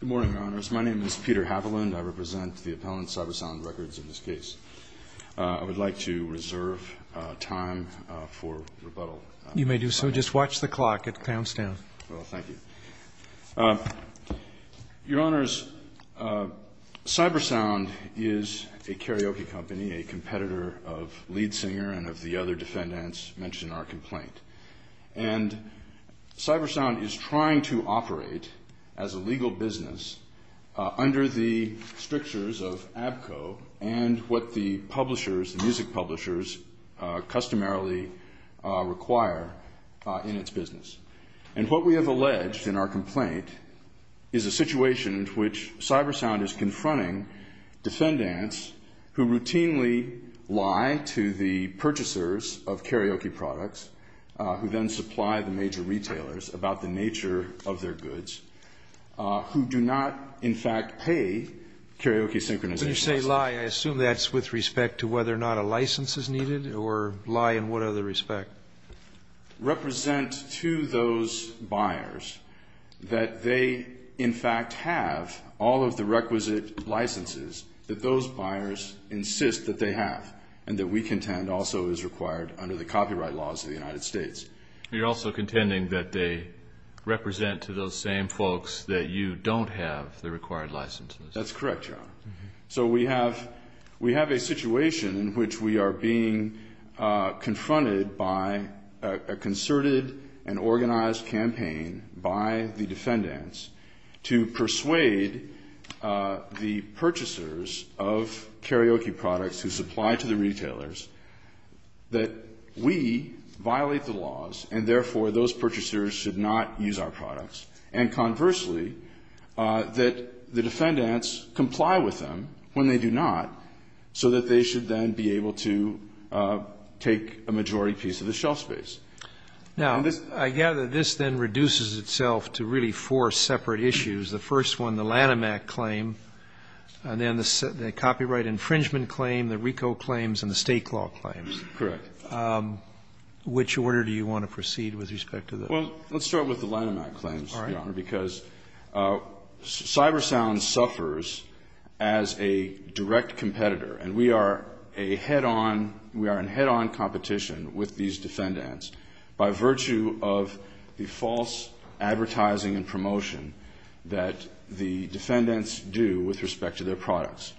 Good morning, Your Honors. My name is Peter Haviland. I represent the appellant, Cybersound Records, in this case. I would like to reserve time for rebuttal. You may do so. Just watch the clock. It counts down. Well, thank you. Your Honors, Cybersound is a karaoke company, a competitor of Lead Singer and of the other defendants mentioned in our complaint. And Cybersound is trying to operate as a legal business under the strictures of ABCO and what the music publishers customarily require in its business. And what we have alleged in our complaint is a situation in which Cybersound is confronting defendants who routinely lie to the purchasers of karaoke products, who then supply the major retailers about the nature of their goods, who do not, in fact, pay karaoke synchronization. When you say lie, I assume that's with respect to whether or not a license is needed, or lie in what other respect? We are contending that they represent to those buyers that they, in fact, have all of the requisite licenses that those buyers insist that they have, and that we contend also is required under the copyright laws of the United States. You're also contending that they represent to those same folks that you don't have the required licenses. That's correct, Your Honor. So we have a situation in which we are being confronted by a concerted and organized campaign by the defendants to persuade the purchasers of karaoke products who supply to the retailers that we violate the laws, and therefore, those purchasers should not use our products, and conversely, that the defendants comply with them when they do not, so that they should then be able to take a majority piece of the shelf space. Now, I gather this then reduces itself to really four separate issues. The first one, the Lanham Act claim, and then the copyright infringement claim, the RICO claims, and the State Clause claims. Correct. Which order do you want to proceed with respect to those? Well, let's start with the Lanham Act claims, Your Honor, because CyberSound suffers as a direct competitor, and we are a head-on, we are in head-on competition with these defendants by virtue of the false advertising and promotion that the defendants do with respect to their products.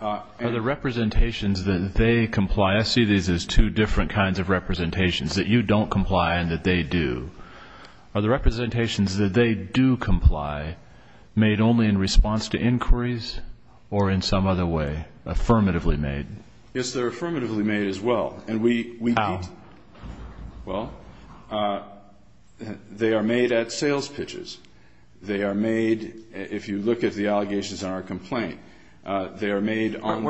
Are the representations that they comply, I see these as two different kinds of representations, that you don't comply and that they do, are the representations that they do comply made only in response to inquiries or in some other way, affirmatively made? Yes, they're affirmatively made as well. How? Well, they are made at sales pitches. They are made, if you look at the allegations in our complaint, they are made on the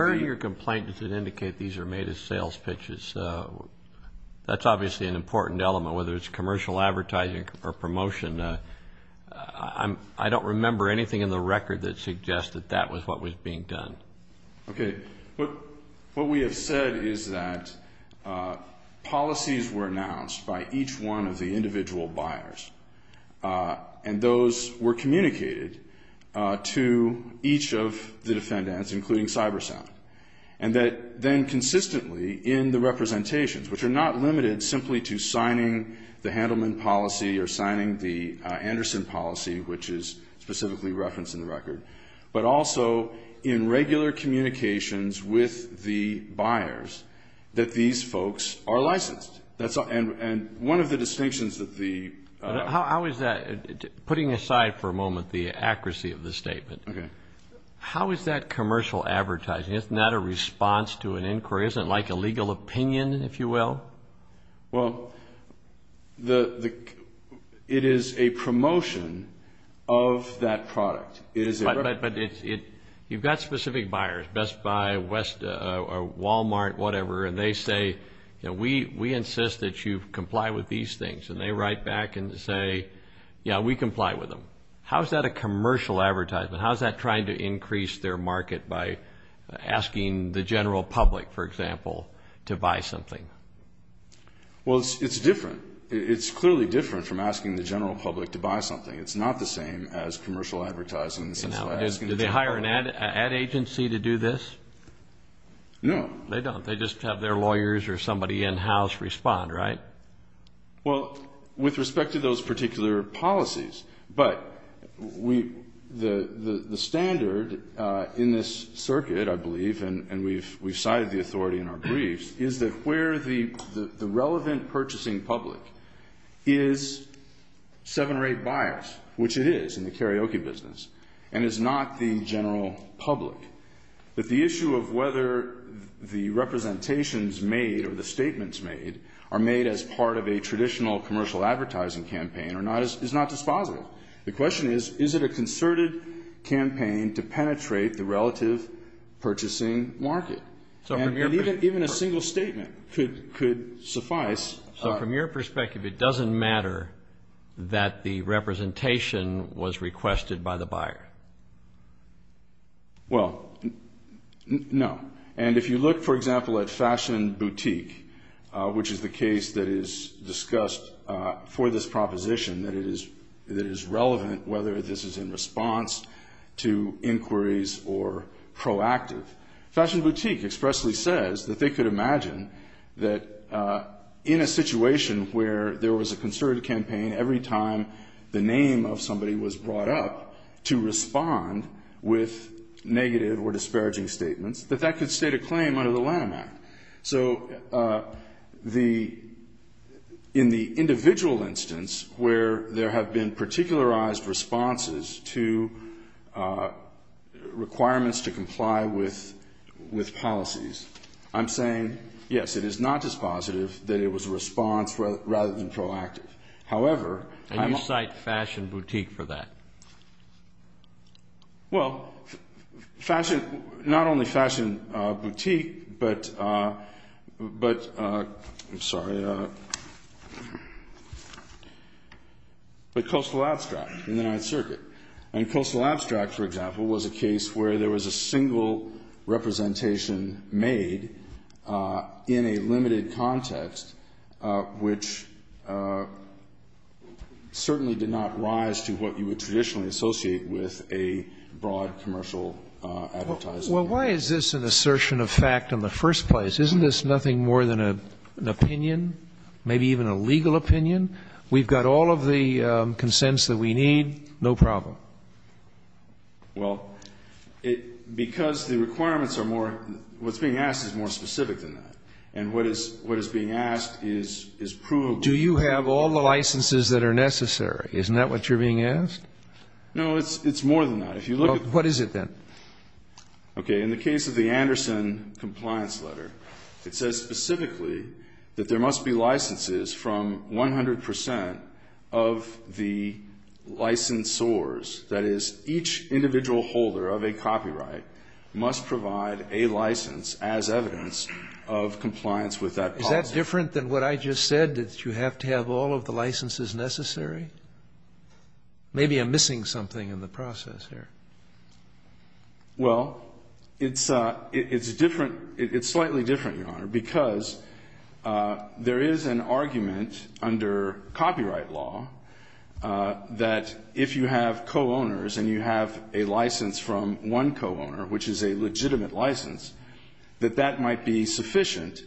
---- whether it's commercial advertising or promotion. I don't remember anything in the record that suggests that that was what was being done. Okay. What we have said is that policies were announced by each one of the individual buyers, and those were communicated to each of the defendants, including CyberSound, and that then consistently in the representations, which are not limited simply to signing the Handelman policy or signing the Anderson policy, which is specifically referenced in the record, but also in regular communications with the buyers that these folks are licensed. And one of the distinctions that the ---- How is that, putting aside for a moment the accuracy of the statement, how is that commercial advertising, isn't that a response to an inquiry, isn't it like a legal opinion, if you will? Well, it is a promotion of that product. But you've got specific buyers, Best Buy, West, Walmart, whatever, and they say, we insist that you comply with these things, and they write back and say, yeah, we comply with them. How is that a commercial advertisement? How is that trying to increase their market by asking the general public, for example, to buy something? Well, it's different. It's clearly different from asking the general public to buy something. It's not the same as commercial advertising. Do they hire an ad agency to do this? No. They don't. They just have their lawyers or somebody in-house respond, right? Well, with respect to those particular policies, but the standard in this circuit, I believe, and we've cited the authority in our briefs, is that where the relevant purchasing public is seven or eight buyers, which it is in the karaoke business, and is not the general public, that the issue of whether the representations made or the statements made are made as part of a traditional commercial advertising campaign is not dispositive. The question is, is it a concerted campaign to penetrate the relative purchasing market? And even a single statement could suffice. So from your perspective, it doesn't matter that the representation was requested by the buyer? Well, no. And if you look, for example, at Fashion Boutique, which is the case that is discussed for this proposition, that it is relevant whether this is in response to inquiries or proactive, Fashion Boutique expressly says that they could imagine that in a situation where there was a concerted campaign, every time the name of somebody was brought up to respond with negative or disparaging statements, that that could state a claim under the LAM Act. So in the individual instance where there have been particularized responses to requirements to comply with policies, I'm saying, yes, it is not dispositive that it was a response rather than proactive. And you cite Fashion Boutique for that? Well, not only Fashion Boutique, but Coastal Abstract in the Ninth Circuit. And Coastal Abstract, for example, was a case where there was a single representation made in a limited context, which certainly did not rise to what you would traditionally associate with a broad commercial advertising. Well, why is this an assertion of fact in the first place? Isn't this nothing more than an opinion, maybe even a legal opinion? We've got all of the consents that we need. No problem. Well, because the requirements are more, what's being asked is more specific than that. And what is being asked is provable. Do you have all the licenses that are necessary? Isn't that what you're being asked? No, it's more than that. Well, what is it then? Okay. In the case of the Anderson compliance letter, it says specifically that there must be licenses from 100 percent of the licensors. That is, each individual holder of a copyright must provide a license as evidence of compliance with that policy. Is that different than what I just said, that you have to have all of the licenses necessary? Maybe I'm missing something in the process here. Well, it's different. It's slightly different, Your Honor, because there is an argument under copyright law that if you have co-owners and you have a license from one co-owner, which is a legitimate license, that that might be sufficient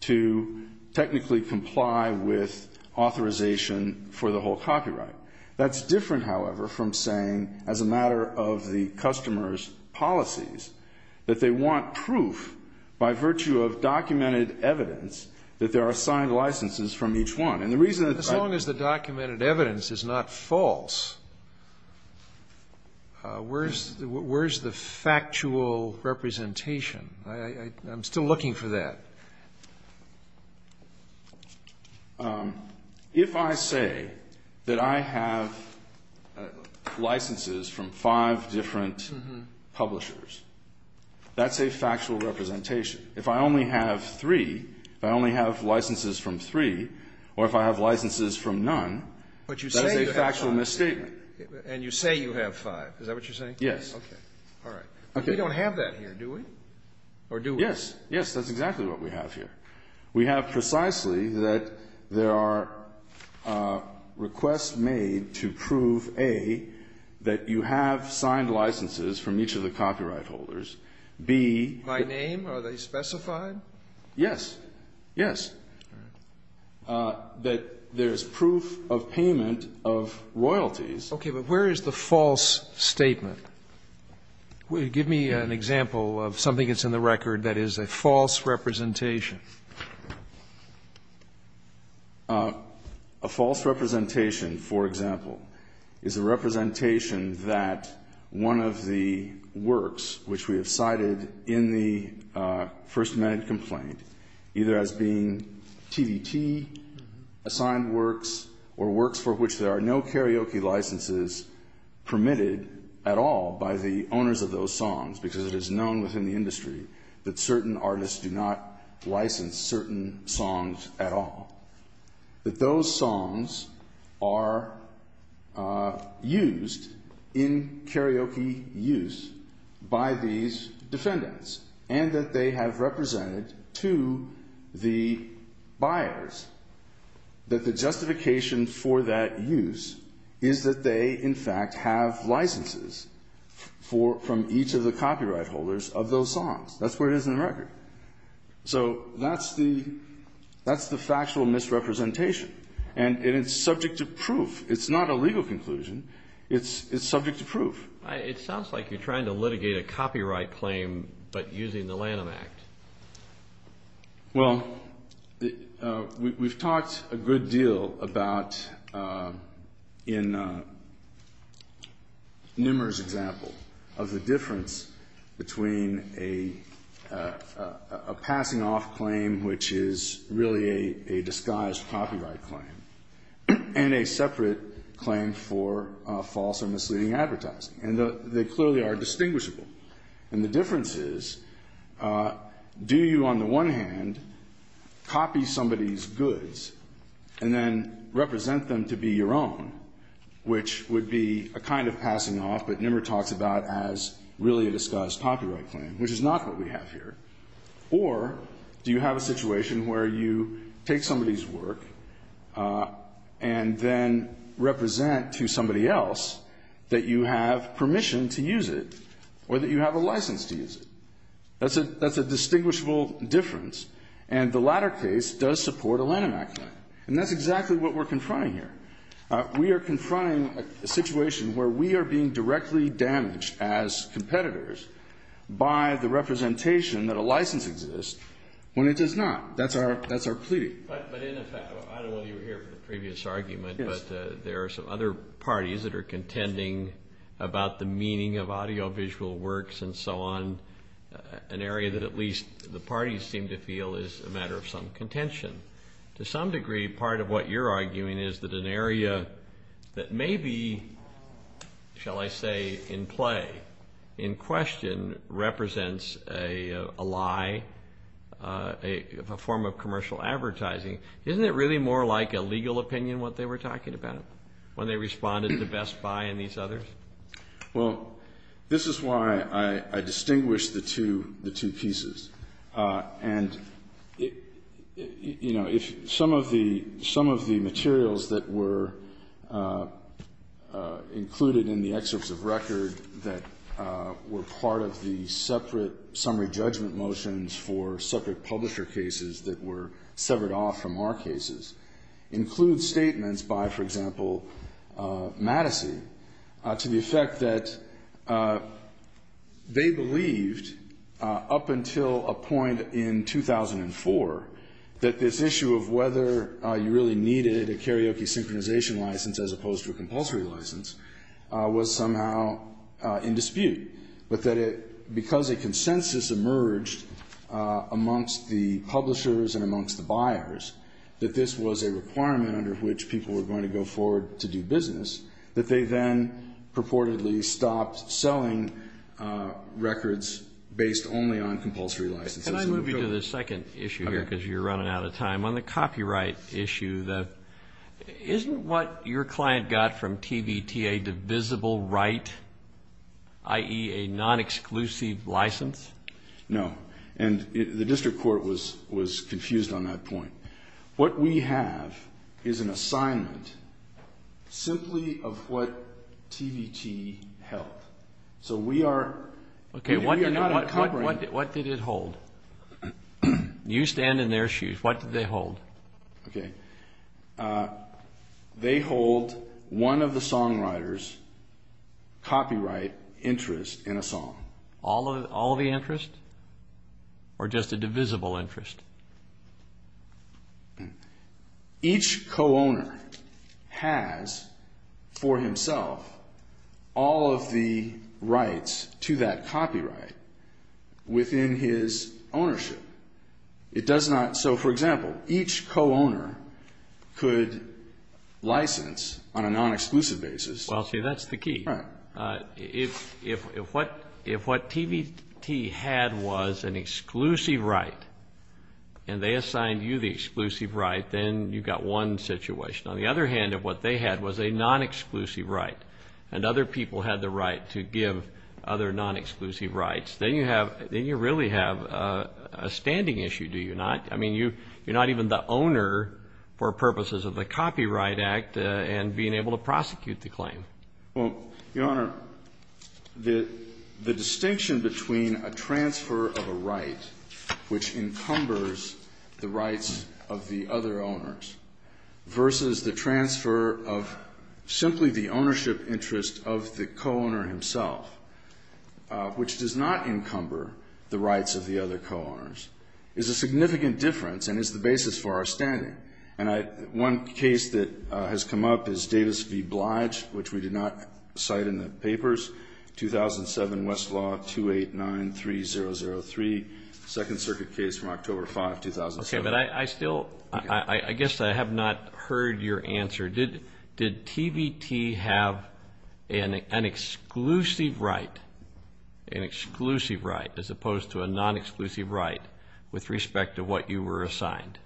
to technically comply with authorization for the whole copyright. That's different, however, from saying, as a matter of the customer's policies, that they want proof by virtue of documented evidence that there are signed licenses from each one. And the reason that I ---- As long as the documented evidence is not false, where is the factual representation? I'm still looking for that. If I say that I have licenses from five different publishers, that's a factual representation. If I only have three, if I only have licenses from three, or if I have licenses from none, that's a factual misstatement. And you say you have five. Is that what you're saying? Yes. Okay. All right. We don't have that here, do we? Or do we? Yes. Yes. That's exactly what we have here. We have precisely that there are requests made to prove, A, that you have signed licenses from each of the copyright holders, B ---- By name? Are they specified? Yes. Yes. All right. That there's proof of payment of royalties. Okay. But where is the false statement? Give me an example of something that's in the record that is a false representation. A false representation, for example, is a representation that one of the works, which we have cited in the First Amendment complaint, either as being TVT-assigned works or works for which there are no karaoke licenses permitted at all by the owners of those songs, because it is known within the industry that certain artists do not license certain songs at all, that those songs are used in karaoke use by these defendants, and that they have represented to the buyers that the justification for that use is that they, in fact, have licenses from each of the copyright holders of those songs. That's where it is in the record. So that's the factual misrepresentation, and it's subject to proof. It's not a legal conclusion. It's subject to proof. It sounds like you're trying to litigate a copyright claim but using the Lanham Act. Well, we've talked a good deal about, in Nimmer's example, of the difference between a passing-off claim, which is really a disguised copyright claim, and a separate claim for false or misleading advertising. And they clearly are distinguishable. And the difference is, do you, on the one hand, copy somebody's goods and then represent them to be your own, which would be a kind of passing-off, but Nimmer talks about as really a disguised copyright claim, which is not what we have here, or do you have a situation where you take somebody's work and then represent to somebody else that you have permission to use it or that you have a license to use it? That's a distinguishable difference. And the latter case does support a Lanham Act claim. And that's exactly what we're confronting here. We are confronting a situation where we are being directly damaged as competitors by the representation that a license exists when it does not. That's our plea. But in effect, I don't know whether you were here for the previous argument, but there are some other parties that are contending about the meaning of audiovisual works and so on, an area that at least the parties seem to feel is a matter of some contention. To some degree, part of what you're arguing is that an area that may be, shall I say, in play, in question represents a lie, a form of commercial advertising. Isn't it really more like a legal opinion, what they were talking about, when they responded to Best Buy and these others? Well, this is why I distinguish the two pieces. And, you know, if some of the materials that were included in the excerpts of record that were part of the separate summary judgment motions for separate publisher cases that were severed off from our cases include statements by, for example, Madison to the effect that they believed up until a point in 2004 that this issue of whether you really needed a karaoke synchronization license as opposed to a compulsory license was somehow in dispute. But that because a consensus emerged amongst the publishers and amongst the buyers, that this was a requirement under which people were going to go forward to do business, that they then purportedly stopped selling records based only on compulsory licenses. Can I move you to the second issue here, because you're running out of time? On the copyright issue, isn't what your client got from TVTA divisible right, i.e., a non-exclusive license? No. And the district court was confused on that point. What we have is an assignment simply of what TVTA held. So we are not incorporating... Okay, what did it hold? You stand in their shoes. What did they hold? Okay. They hold one of the songwriters' copyright interest in a song. All of the interest? Or just a divisible interest? Each co-owner has for himself all of the rights to that copyright within his ownership. It does not... So, for example, each co-owner could license on a non-exclusive basis... If what TVTA had was an exclusive right and they assigned you the exclusive right, then you got one situation. On the other hand, if what they had was a non-exclusive right and other people had the right to give other non-exclusive rights, then you really have a standing issue, do you not? I mean, you're not even the owner for purposes of the Copyright Act and being able to prosecute the claim. Well, Your Honor, the distinction between a transfer of a right which encumbers the rights of the other owners versus the transfer of simply the ownership interest of the co-owner himself, which does not encumber the rights of the other co-owners, is a significant difference and is the basis for our standing. And one case that has come up is Davis v. Blige, which we did not cite in the papers. 2007, Westlaw 2893003, Second Circuit case from October 5, 2007. Okay, but I still... I guess I have not heard your answer. Did TVTA have an exclusive right, an exclusive right as opposed to a non-exclusive right with respect to what you were assigned?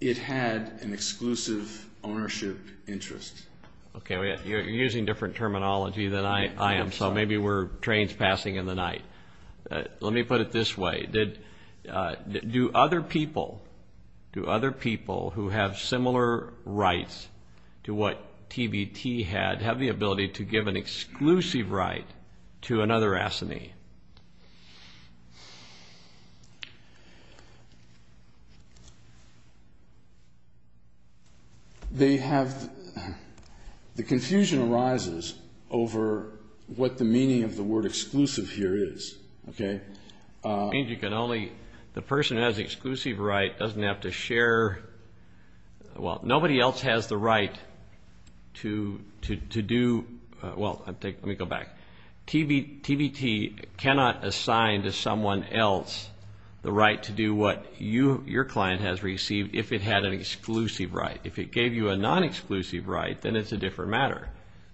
It had an exclusive ownership interest. Okay, you're using different terminology than I am, so maybe we're trains passing in the night. Let me put it this way. Do other people who have similar rights to what TVTA had have the ability to give an exclusive right to another assignee? The confusion arises over what the meaning of the word exclusive here is. The person who has the exclusive right doesn't have to share... Well, nobody else has the right to do... Well, let me go back. TVTA cannot assign to someone else the right to do what your client has received if it had an exclusive right. If it gave you a non-exclusive right, then it's a different matter.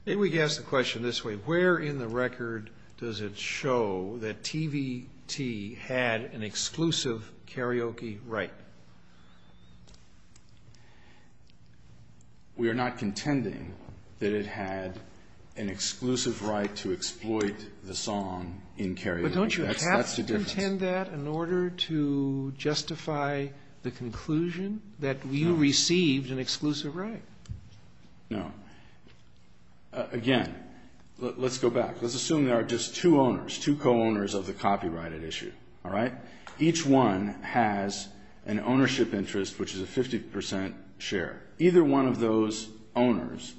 Maybe we can ask the question this way. Where in the record does it show that TVTA had an exclusive karaoke right? We are not contending that it had an exclusive right to exploit the song in karaoke. That's the difference. But don't you have to contend that in order to justify the conclusion that you received an exclusive right? No. Again, let's go back. Let's assume there are just two owners, two co-owners of the copyrighted issue. Each one has an ownership interest, which is a 50% share. Either one of those owners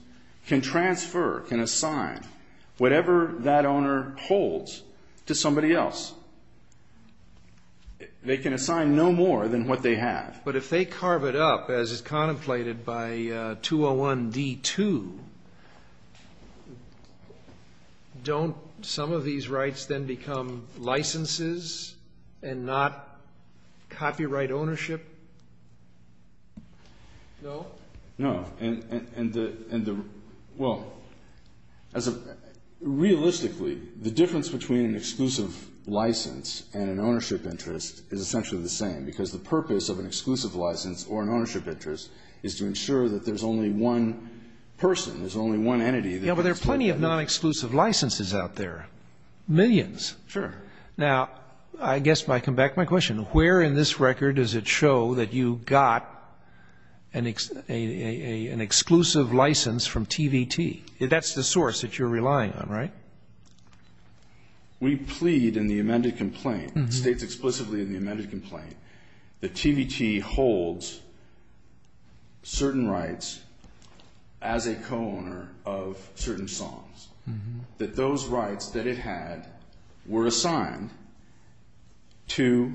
can transfer, can assign whatever that owner holds to somebody else. They can assign no more than what they have. But if they carve it up, as is contemplated by 201D2, don't some of these rights then become licenses and not copyright ownership? No. Realistically, the difference between an exclusive license and an ownership interest is essentially the same. Because the purpose of an exclusive license or an ownership interest is to ensure that there's only one person, there's only one entity. Yeah, but there are plenty of non-exclusive licenses out there, millions. Sure. Now, I guess I come back to my question. Where in this record does it show that you got an exclusive license from TVT? That's the source that you're relying on, right? We plead in the amended complaint, states explicitly in the amended complaint, that TVT holds certain rights as a co-owner of certain songs, that those rights that it had were assigned to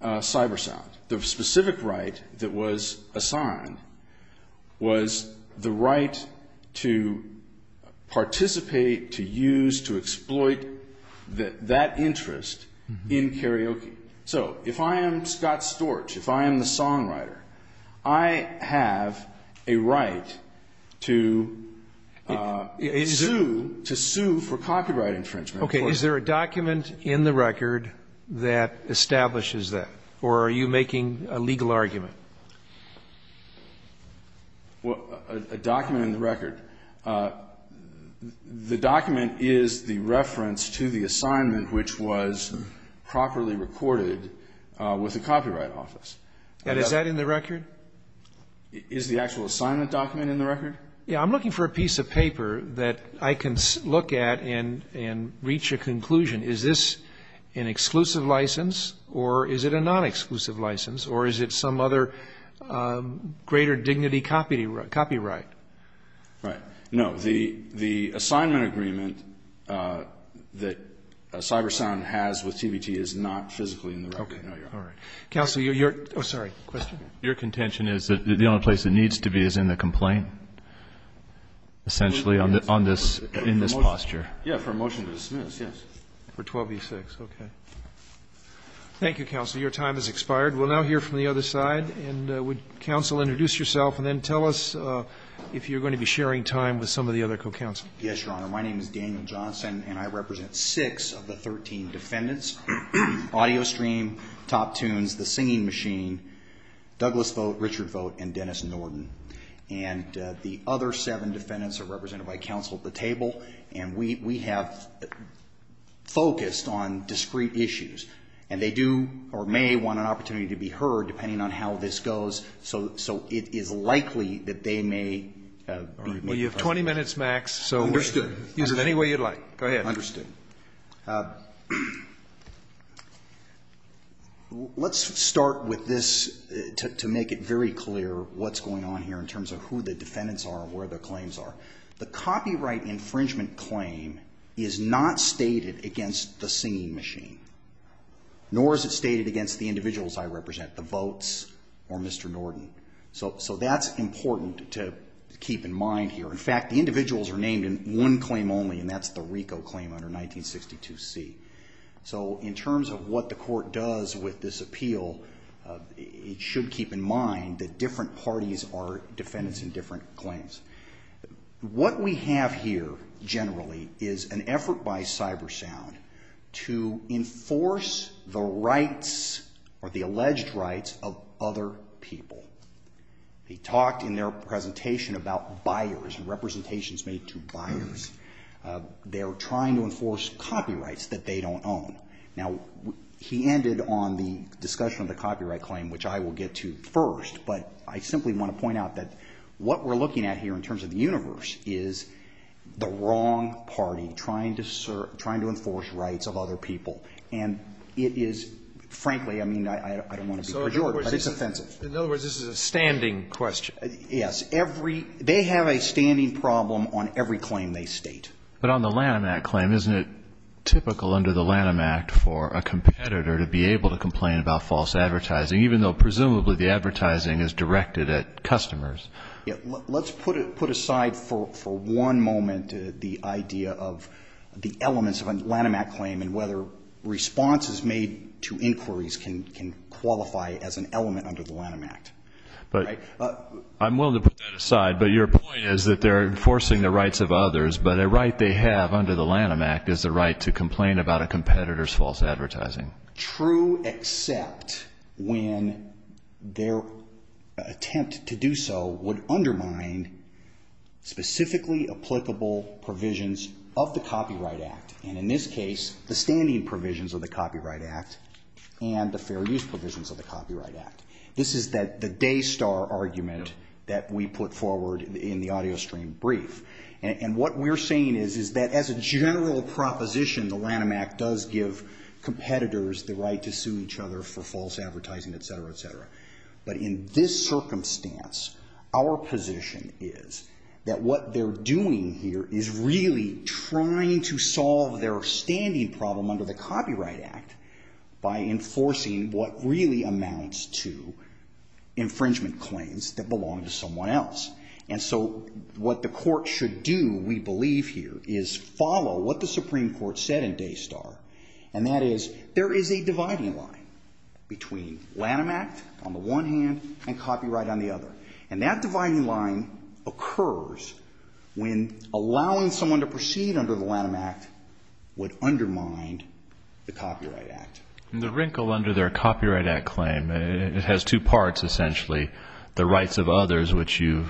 Cybersound. The specific right that was assigned was the right to participate, to use, to exploit that interest in karaoke. So if I am Scott Storch, if I am the songwriter, I have a right to sue, to sue for copyright infringement. Okay. Is there a document in the record that establishes that, or are you making a legal argument? A document in the record. The document is the reference to the assignment which was properly recorded with the Copyright Office. And is that in the record? Is the actual assignment document in the record? Yeah, I'm looking for a piece of paper that I can look at and reach a conclusion. Is this an exclusive license, or is it a non-exclusive license, or is it some other greater dignity copyright? Right. No, the assignment agreement that Cybersound has with TVT is not physically in the record. Counsel, your, oh sorry, question? Your contention is that the only place it needs to be is in the complaint, essentially, in this posture. Yeah, for a motion to dismiss, yes. For 12 v. 6, okay. Thank you, Counsel. Your time has expired. We'll now hear from the other side, and would Counsel introduce yourself, and then tell us if you're going to be sharing time with some of the other co-counselors. Yes, Your Honor. My name is Daniel Johnson, and I represent six of the 13 defendants, Audio Stream, Top Tunes, The Singing Machine, Douglas Vogt, Richard Vogt, and Dennis Norton. And the other seven defendants are represented by Counsel at the table, and we have focused on discrete issues. And they do or may want an opportunity to be heard, depending on how this goes, so it is likely that they may be making comments. Well, you have 20 minutes, Max, so use it any way you'd like. Go ahead. Understood. Let's start with this to make it very clear what's going on here in terms of who the defendants are and where their claims are. The copyright infringement claim is not stated against The Singing Machine, nor is it stated against the individuals I represent, The Votes or Mr. Norton. So that's important to keep in mind here. In fact, the individuals are named in one claim only, and that's the RICO claim under 1962C. So in terms of what the court does with this appeal, it should keep in mind that different parties are defendants in different claims. What we have here, generally, is an effort by CyberSound to enforce the rights or the alleged rights of other people. They talked in their presentation about buyers and representations made to buyers. They were trying to enforce copyrights that they don't own. Now, he ended on the discussion of the copyright claim, which I will get to first, but I simply want to point out that what we're looking at here in terms of the universe is the wrong party trying to enforce rights of other people. And it is, frankly, I mean, I don't want to be pejorative, but it's offensive. In other words, this is a standing question. Yes. They have a standing problem on every claim they state. But on the Lanham Act claim, isn't it typical under the Lanham Act for a competitor to be able to complain about false advertising, even though presumably the advertising is directed at customers? Let's put aside for one moment the idea of the elements of a Lanham Act claim and whether responses made to inquiries can qualify as an element under the Lanham Act. I'm willing to put that aside, but your point is that they're enforcing the rights of others, but a right they have under the Lanham Act is the right to complain about a competitor's false advertising. True, except when their attempt to do so would undermine specifically applicable provisions of the Copyright Act. And in this case, the standing provisions of the Copyright Act and the fair use provisions of the Copyright Act. This is the day star argument that we put forward in the audio stream brief. And what we're saying is that as a general proposition, the Lanham Act does give competitors the right to sue each other for false advertising, et cetera, et cetera. But in this circumstance, our position is that what they're doing here is really trying to solve their standing problem under the Copyright Act by enforcing what really amounts to infringement claims that So what we're saying here is follow what the Supreme Court said in day star, and that is there is a dividing line between Lanham Act on the one hand and copyright on the other. And that dividing line occurs when allowing someone to proceed under the Lanham Act would undermine the Copyright Act. And the wrinkle under their Copyright Act claim, it has two parts, essentially. The rights of others, which you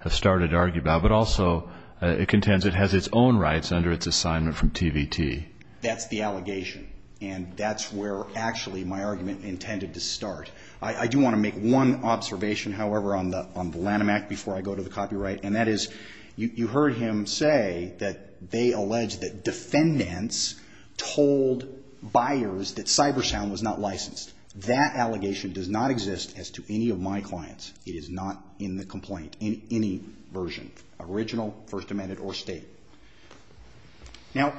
have started to argue about, but also it contends it has its own rights under its assignment from TVT. And that's where actually my argument intended to start. I do want to make one observation, however, on the Lanham Act before I go to the copyright, and that is you heard him say that they allege that defendants told buyers that Cybersound was not licensed. That allegation does not exist as to any of my clients. It is not in the complaint, in any version, original, First Amendment, or state. Now,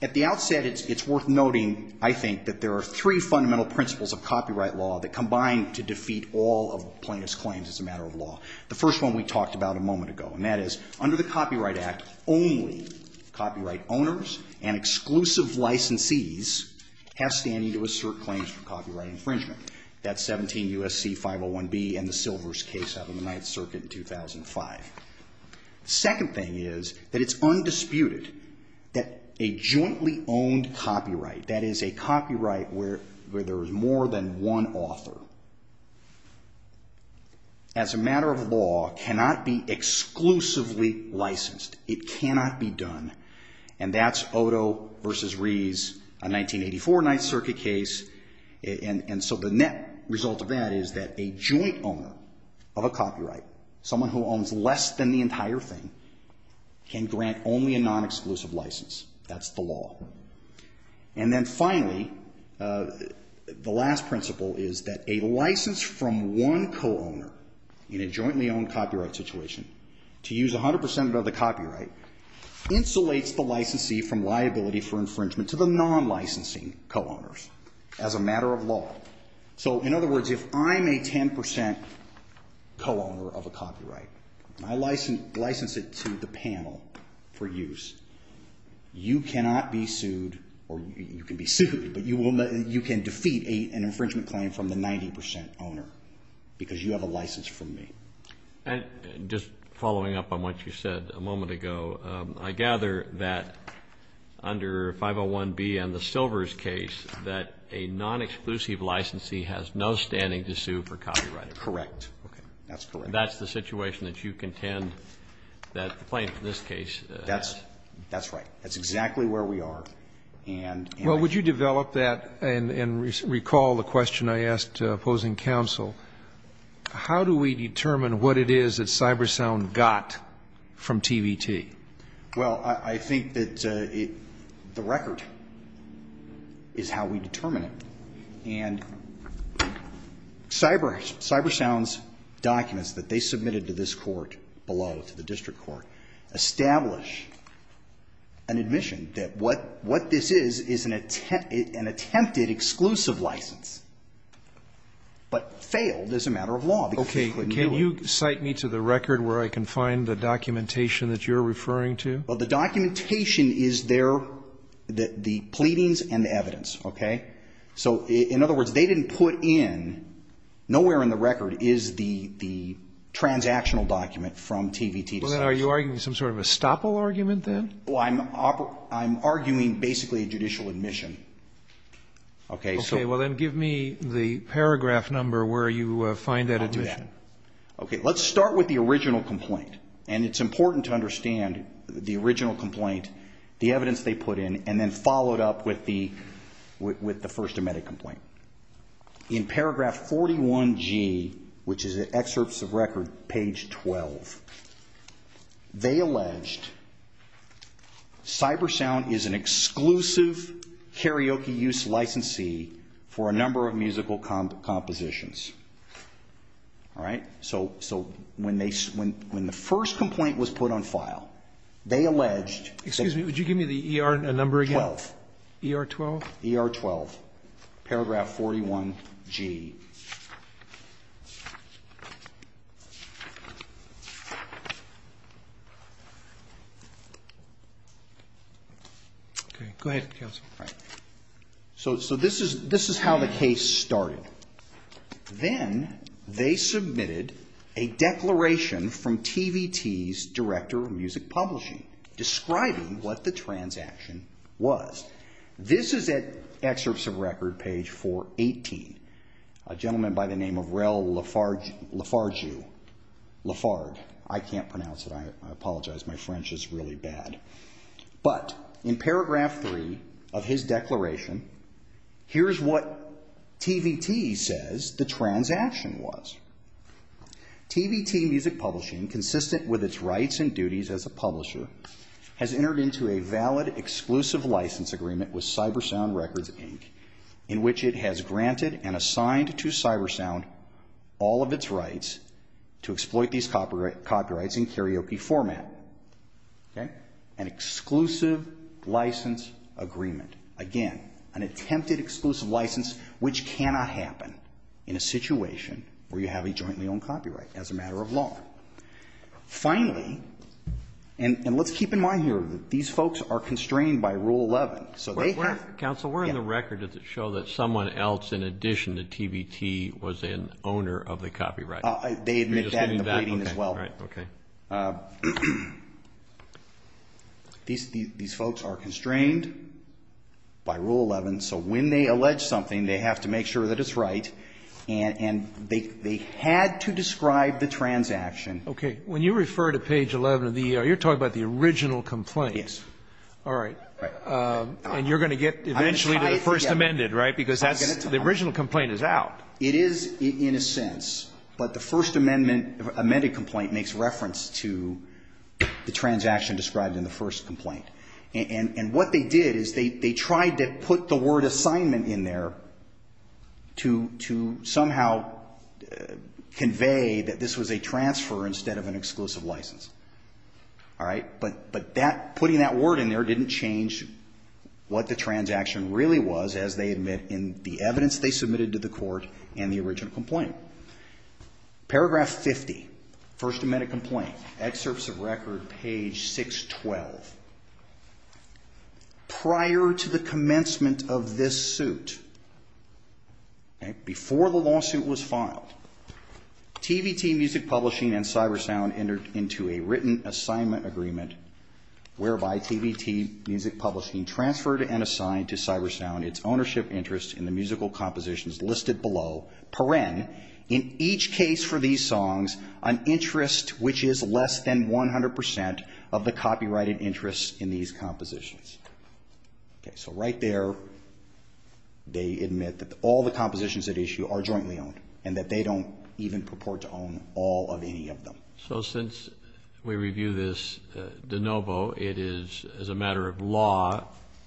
at the outset, it's worth noting, I think, that there are three fundamental principles of copyright law that combine to defeat all of plaintiff's claims as a matter of law. The first one we talked about a moment ago, and that is under the Copyright Act, only copyright owners and exclusive licensees have standing to assert claims for copyright infringement. That's 17 U.S.C. 501B and the Silvers case out of the Ninth Circuit in 2005. The second thing is that it's undisputed that a jointly owned copyright, that is a copyright where there is more than one author, as a matter of law, cannot be exclusively licensed. It cannot be done. And that's Odo v. Rees, a 1984 Ninth Circuit case, and so the net result of that is that a joint owner of a copyright, someone who owns less than the entire thing, can grant only a non-exclusive license. That's the law. And then finally, the last principle is that a license from one co-owner in a jointly owned copyright situation to use 100% of the copyright insulates the licensee from liability for infringement to the non-licensing co-owners, as a matter of law. So, in other words, if I'm a 10% co-owner of a copyright, I license it to the panel for use. You cannot be sued, or you can be sued, but you can defeat an infringement claim from the 90% owner because you have a license from me. And just following up on what you said a moment ago, I gather that under 501B and the Silvers case that a non-exclusive licensee has no standing to sue for copyright infringement. Correct. Okay. That's correct. And that's the situation that you contend that the plaintiff in this case has. That's right. That's exactly where we are. Well, would you develop that and recall the question I asked opposing counsel? How do we determine what it is that Cybersound got from TVT? Well, I think that the record is how we determine it. And Cybersound's documents that they submitted to this court below, to the district court, establish an admission that what this is is an attempted exclusive license, but failed as a matter of law. Okay. Can you cite me to the record where I can find the documentation that you're referring to? Well, the documentation is there, the pleadings and the evidence. Okay? So in other words, they didn't put in, nowhere in the record is the transactional document from TVT. Well, then are you arguing some sort of estoppel argument then? Well, I'm arguing basically a judicial admission. Okay. Well, then give me the paragraph number where you find that admission. Okay. Let's start with the original complaint. And it's important to understand the original complaint, the evidence they put in, and then follow it up with the first admitted complaint. In paragraph 41G, which is excerpts of record, page 12, they alleged Cybersound is an exclusive karaoke use licensee for a number of musical compositions. All right? So when the first complaint was put on file, they alleged that the ER12, paragraph 41G. Okay. Go ahead, Counsel. All right. So this is how the case started. Then they submitted a declaration from TVT's director of music publishing describing what the transaction was. This is at excerpts of record, page 418. A gentleman by the name of Rel Lafargue. Lafargue. I can't pronounce it. I apologize. My French is really bad. But in paragraph 3 of his declaration, here's what TVT says the transaction was. Okay. An exclusive license agreement. Again, an attempted exclusive license, which cannot happen in a situation where you have a jointly owned copyright as a matter of law. Finally, and listen to this. Let's keep in mind here that these folks are constrained by Rule 11. Counsel, where in the record does it show that someone else in addition to TVT was an owner of the copyright? They admit that in the pleading as well. Okay. These folks are constrained by Rule 11. So when they allege something, they have to make sure that it's right. And they had to describe the transaction. Okay. When you refer to page 11 of the E.R., you're talking about the original complaint. Yes. All right. And you're going to get eventually to the first amended, right? Because the original complaint is out. It is in a sense. But the first amended complaint makes reference to the transaction described in the first complaint. And what they did is they tried to put the word assignment in there to somehow convey that this was a transfer instead of an exclusive license. All right. But putting that word in there didn't change what the transaction really was, as they admit, in the evidence they submitted to the court and the original complaint. Paragraph 50. First amended complaint. Excerpts of record, page 612. Prior to the commencement of this suit, before the lawsuit was filed, TVT Music Publishing and CyberSound entered into a written assignment agreement, whereby TVT Music Publishing transferred and assigned to CyberSound its ownership interest in the musical compositions listed below, per en, in each case for these songs, an interest which is less than 100 percent of the copyrighted interest in these compositions. Okay. So right there, they admit that all the compositions at issue are jointly owned and that they don't even purport to own all of any of them. So since we review this de novo, it is, as a matter of law,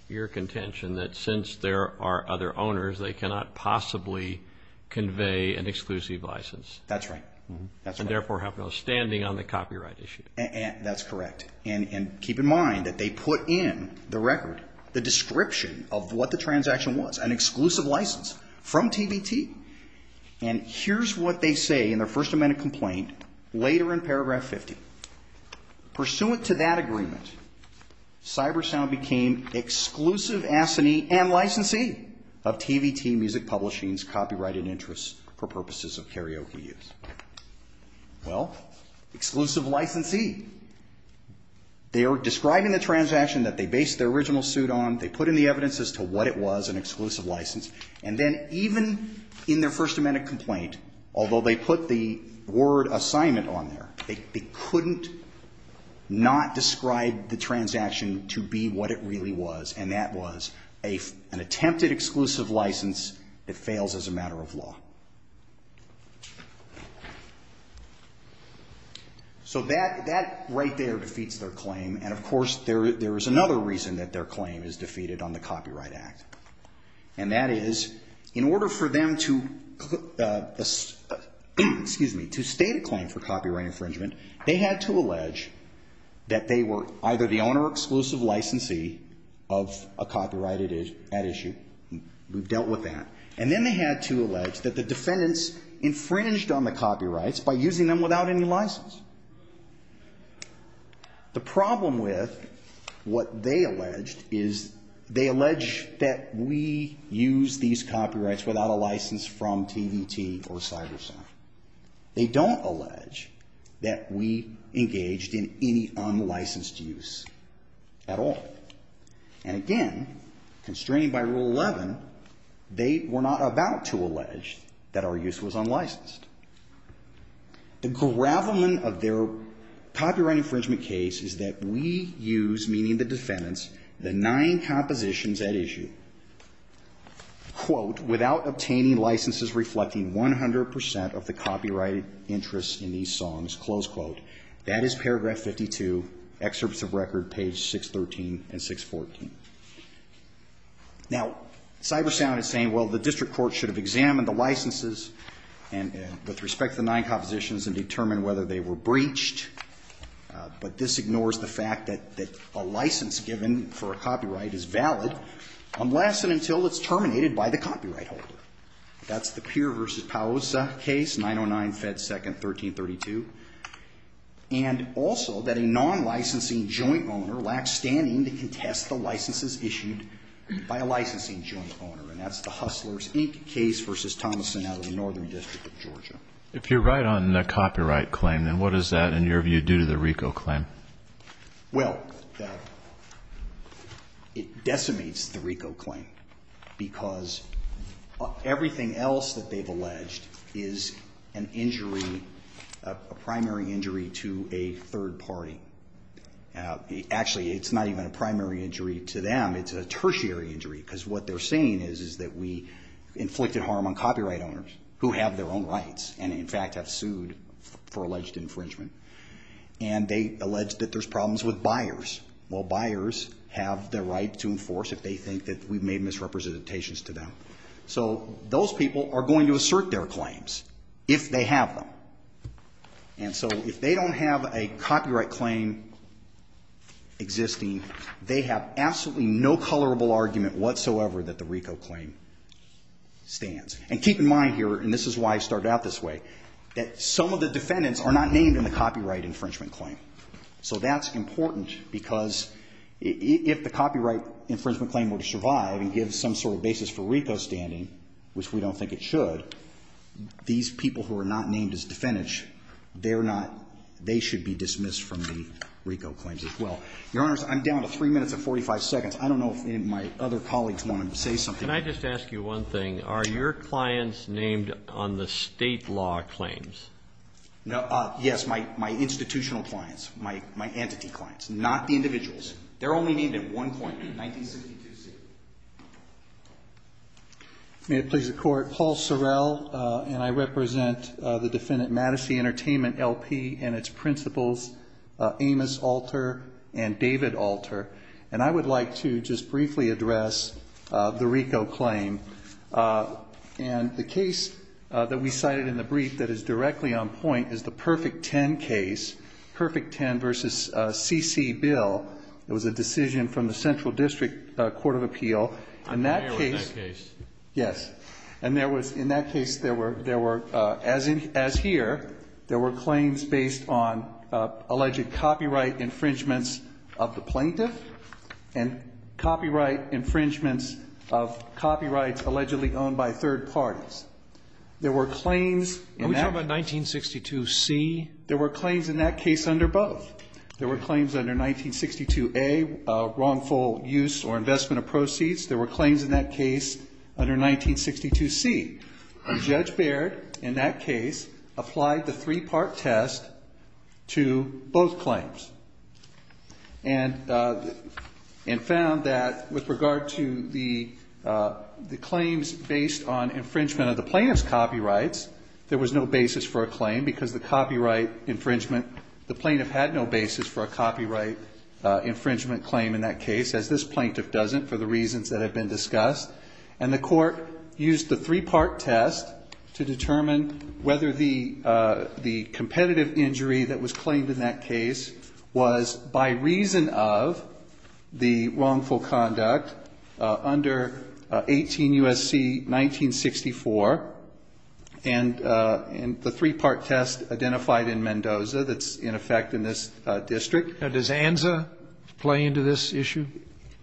your contention that since there are other owners, they cannot possibly convey an exclusive license. That's right. And therefore have no standing on the copyright issue. That's correct. And keep in mind that they put in the record the description of what the transaction was, an exclusive license from TVT. And here's what they say in their First Amendment complaint later in paragraph 50. Pursuant to that agreement, CyberSound became exclusive assignee and licensee of TVT Music Publishing's copyrighted interest for purposes of karaoke use. Well, exclusive licensee. They are describing the transaction that they based their original suit on. They put in the evidence as to what it was, an exclusive license. And then even in their First Amendment complaint, although they put the word assignment on there, they couldn't not describe the transaction to be what it really was. And that was an attempted exclusive license that fails as a matter of law. So that right there defeats their claim. And, of course, there is another reason that their claim is defeated on the Copyright Act. And that is, in order for them to state a claim for copyright infringement, they had to allege that they were either the owner or exclusive licensee of a copyrighted ad issue. We've dealt with that. And then they had to allege that the defendants infringed on the copyrights by using them without any license. The problem with what they alleged is they allege that we use these copyrights without a license from TVT or Cyber Center. They don't allege that we engaged in any unlicensed use at all. And, again, constrained by Rule 11, they were not about to allege that our use was unlicensed. The gravamen of their copyright infringement case is that we use, meaning the defendants, the nine compositions at issue, quote, without obtaining licenses reflecting 100 percent of the copyrighted interests in these songs, close quote. That is paragraph 52, excerpts of record, page 613 and 614. Now, Cyber Sound is saying, well, the district court should have examined the licenses with respect to the nine compositions and determined whether they were breached. But this ignores the fact that a license given for a copyright is valid unless and until it's terminated by the copyright holder. That's the Peer v. Paosa case, 909, Fed 2nd, 1332. And also that a non-licensing joint owner lacks standing to contest the licenses issued by a licensing joint owner. And that's the Hustlers Inc. case v. Thomason out of the Northern District of Georgia. If you're right on the copyright claim, then what does that, in your view, do to the RICO claim? Well, it decimates the RICO claim because everything else that they've alleged is an injury, a primary injury to a third party. Actually, it's not even a primary injury to them. It's a tertiary injury because what they're saying is that we inflicted harm on copyright owners who have their own rights and, in fact, have sued for alleged infringement. And they allege that there's problems with buyers. Well, buyers have the right to enforce if they think that we've made misrepresentations to them. So those people are going to assert their claims if they have them. And so if they don't have a copyright claim existing, they have absolutely no colorable argument whatsoever that the RICO claim stands. And keep in mind here, and this is why I started out this way, that some of the defendants are not named in the copyright infringement claim. So that's important because if the copyright infringement claim were to survive and give some sort of basis for RICO standing, which we don't think it should, these people who are not named as defendants, they should be dismissed from the RICO claims as well. Your Honors, I'm down to 3 minutes and 45 seconds. I don't know if any of my other colleagues wanted to say something. Can I just ask you one thing? Are your clients named on the state law claims? Yes, my institutional clients, my entity clients, not the individuals. They're only named at one point in 1962. May it please the Court. Paul Sorrell, and I represent the Defendant Madison Entertainment LP and its principals, Amos Alter and David Alter. And I would like to just briefly address the RICO claim. And the case that we cited in the brief that is directly on point is the Perfect Ten case, Perfect Ten v. C.C. Bill. It was a decision from the Central District Court of Appeal. I'm familiar with that case. Yes. And there was, in that case, there were, as in, as here, there were claims based on alleged copyright infringements of the plaintiff and copyright infringements of copyrights allegedly owned by third parties. There were claims in that. Are we talking about 1962C? There were claims in that case under both. There were claims under 1962A, wrongful use or investment of proceeds. There were claims in that case under 1962C. Judge Baird, in that case, applied the three-part test to both claims and found that with regard to the claims based on infringement of the plaintiff's copyrights, there was no basis for a claim because the copyright infringement, the plaintiff had no basis for a copyright infringement claim in that case, as this plaintiff doesn't for the reasons that have been discussed. And the court used the three-part test to determine whether the competitive injury that was claimed in that case was by reason of the wrongful conduct under 18 U.S.C. 1964 and the three-part test identified in Mendoza that's in effect in this district. Now, does ANZA play into this issue?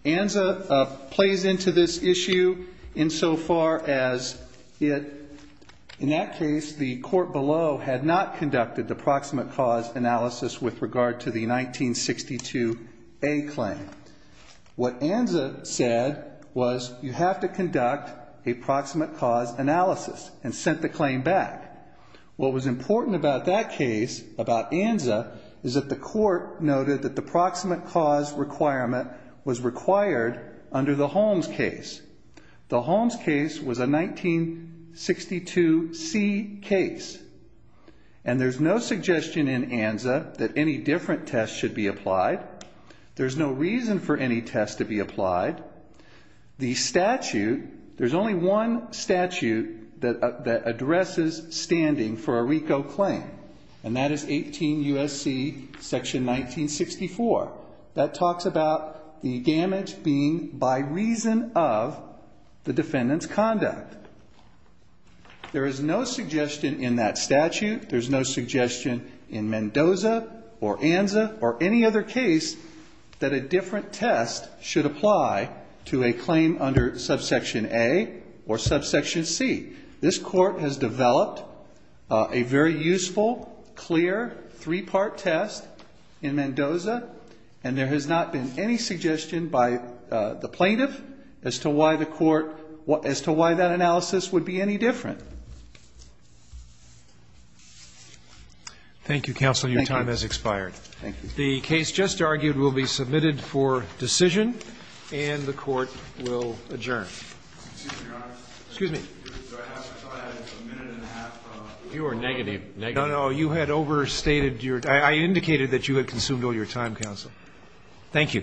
ANZA plays into this issue insofar as it, in that case, the court below had not conducted the proximate cause analysis with regard to the 1962A claim. What ANZA said was you have to conduct a proximate cause analysis and sent the claim back. What was important about that case, about ANZA, is that the court noted that the proximate cause requirement was required under the Holmes case. The Holmes case was a 1962C case. And there's no suggestion in ANZA that any different test should be applied. There's no reason for any test to be applied. The statute, there's only one statute that addresses standing for a RICO claim, and that is 18 U.S.C. section 1964. That talks about the damage being by reason of the defendant's conduct. There is no suggestion in that statute. There's no suggestion in Mendoza or ANZA or any other case that a different test should apply to a claim under subsection A or subsection C. This court has developed a very useful, clear, three-part test in Mendoza, and there has not been any suggestion by the plaintiff as to why the court, as to why that analysis would be any different. Thank you, counsel. Your time has expired. Thank you. The case just argued will be submitted for decision, and the Court will adjourn. Excuse me, Your Honor. Excuse me. I thought I had a minute and a half. You were negative. Negative. No, no. You had overstated your time. I indicated that you had consumed all your time, counsel. Thank you. All rise. Security, security.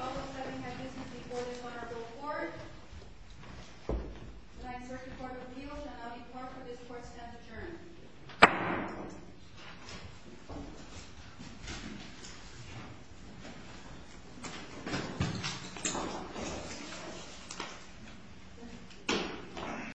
All those having had business before this order go forward. The Ninth Circuit Court of Appeals, and I'll be part of this court, stands adjourned.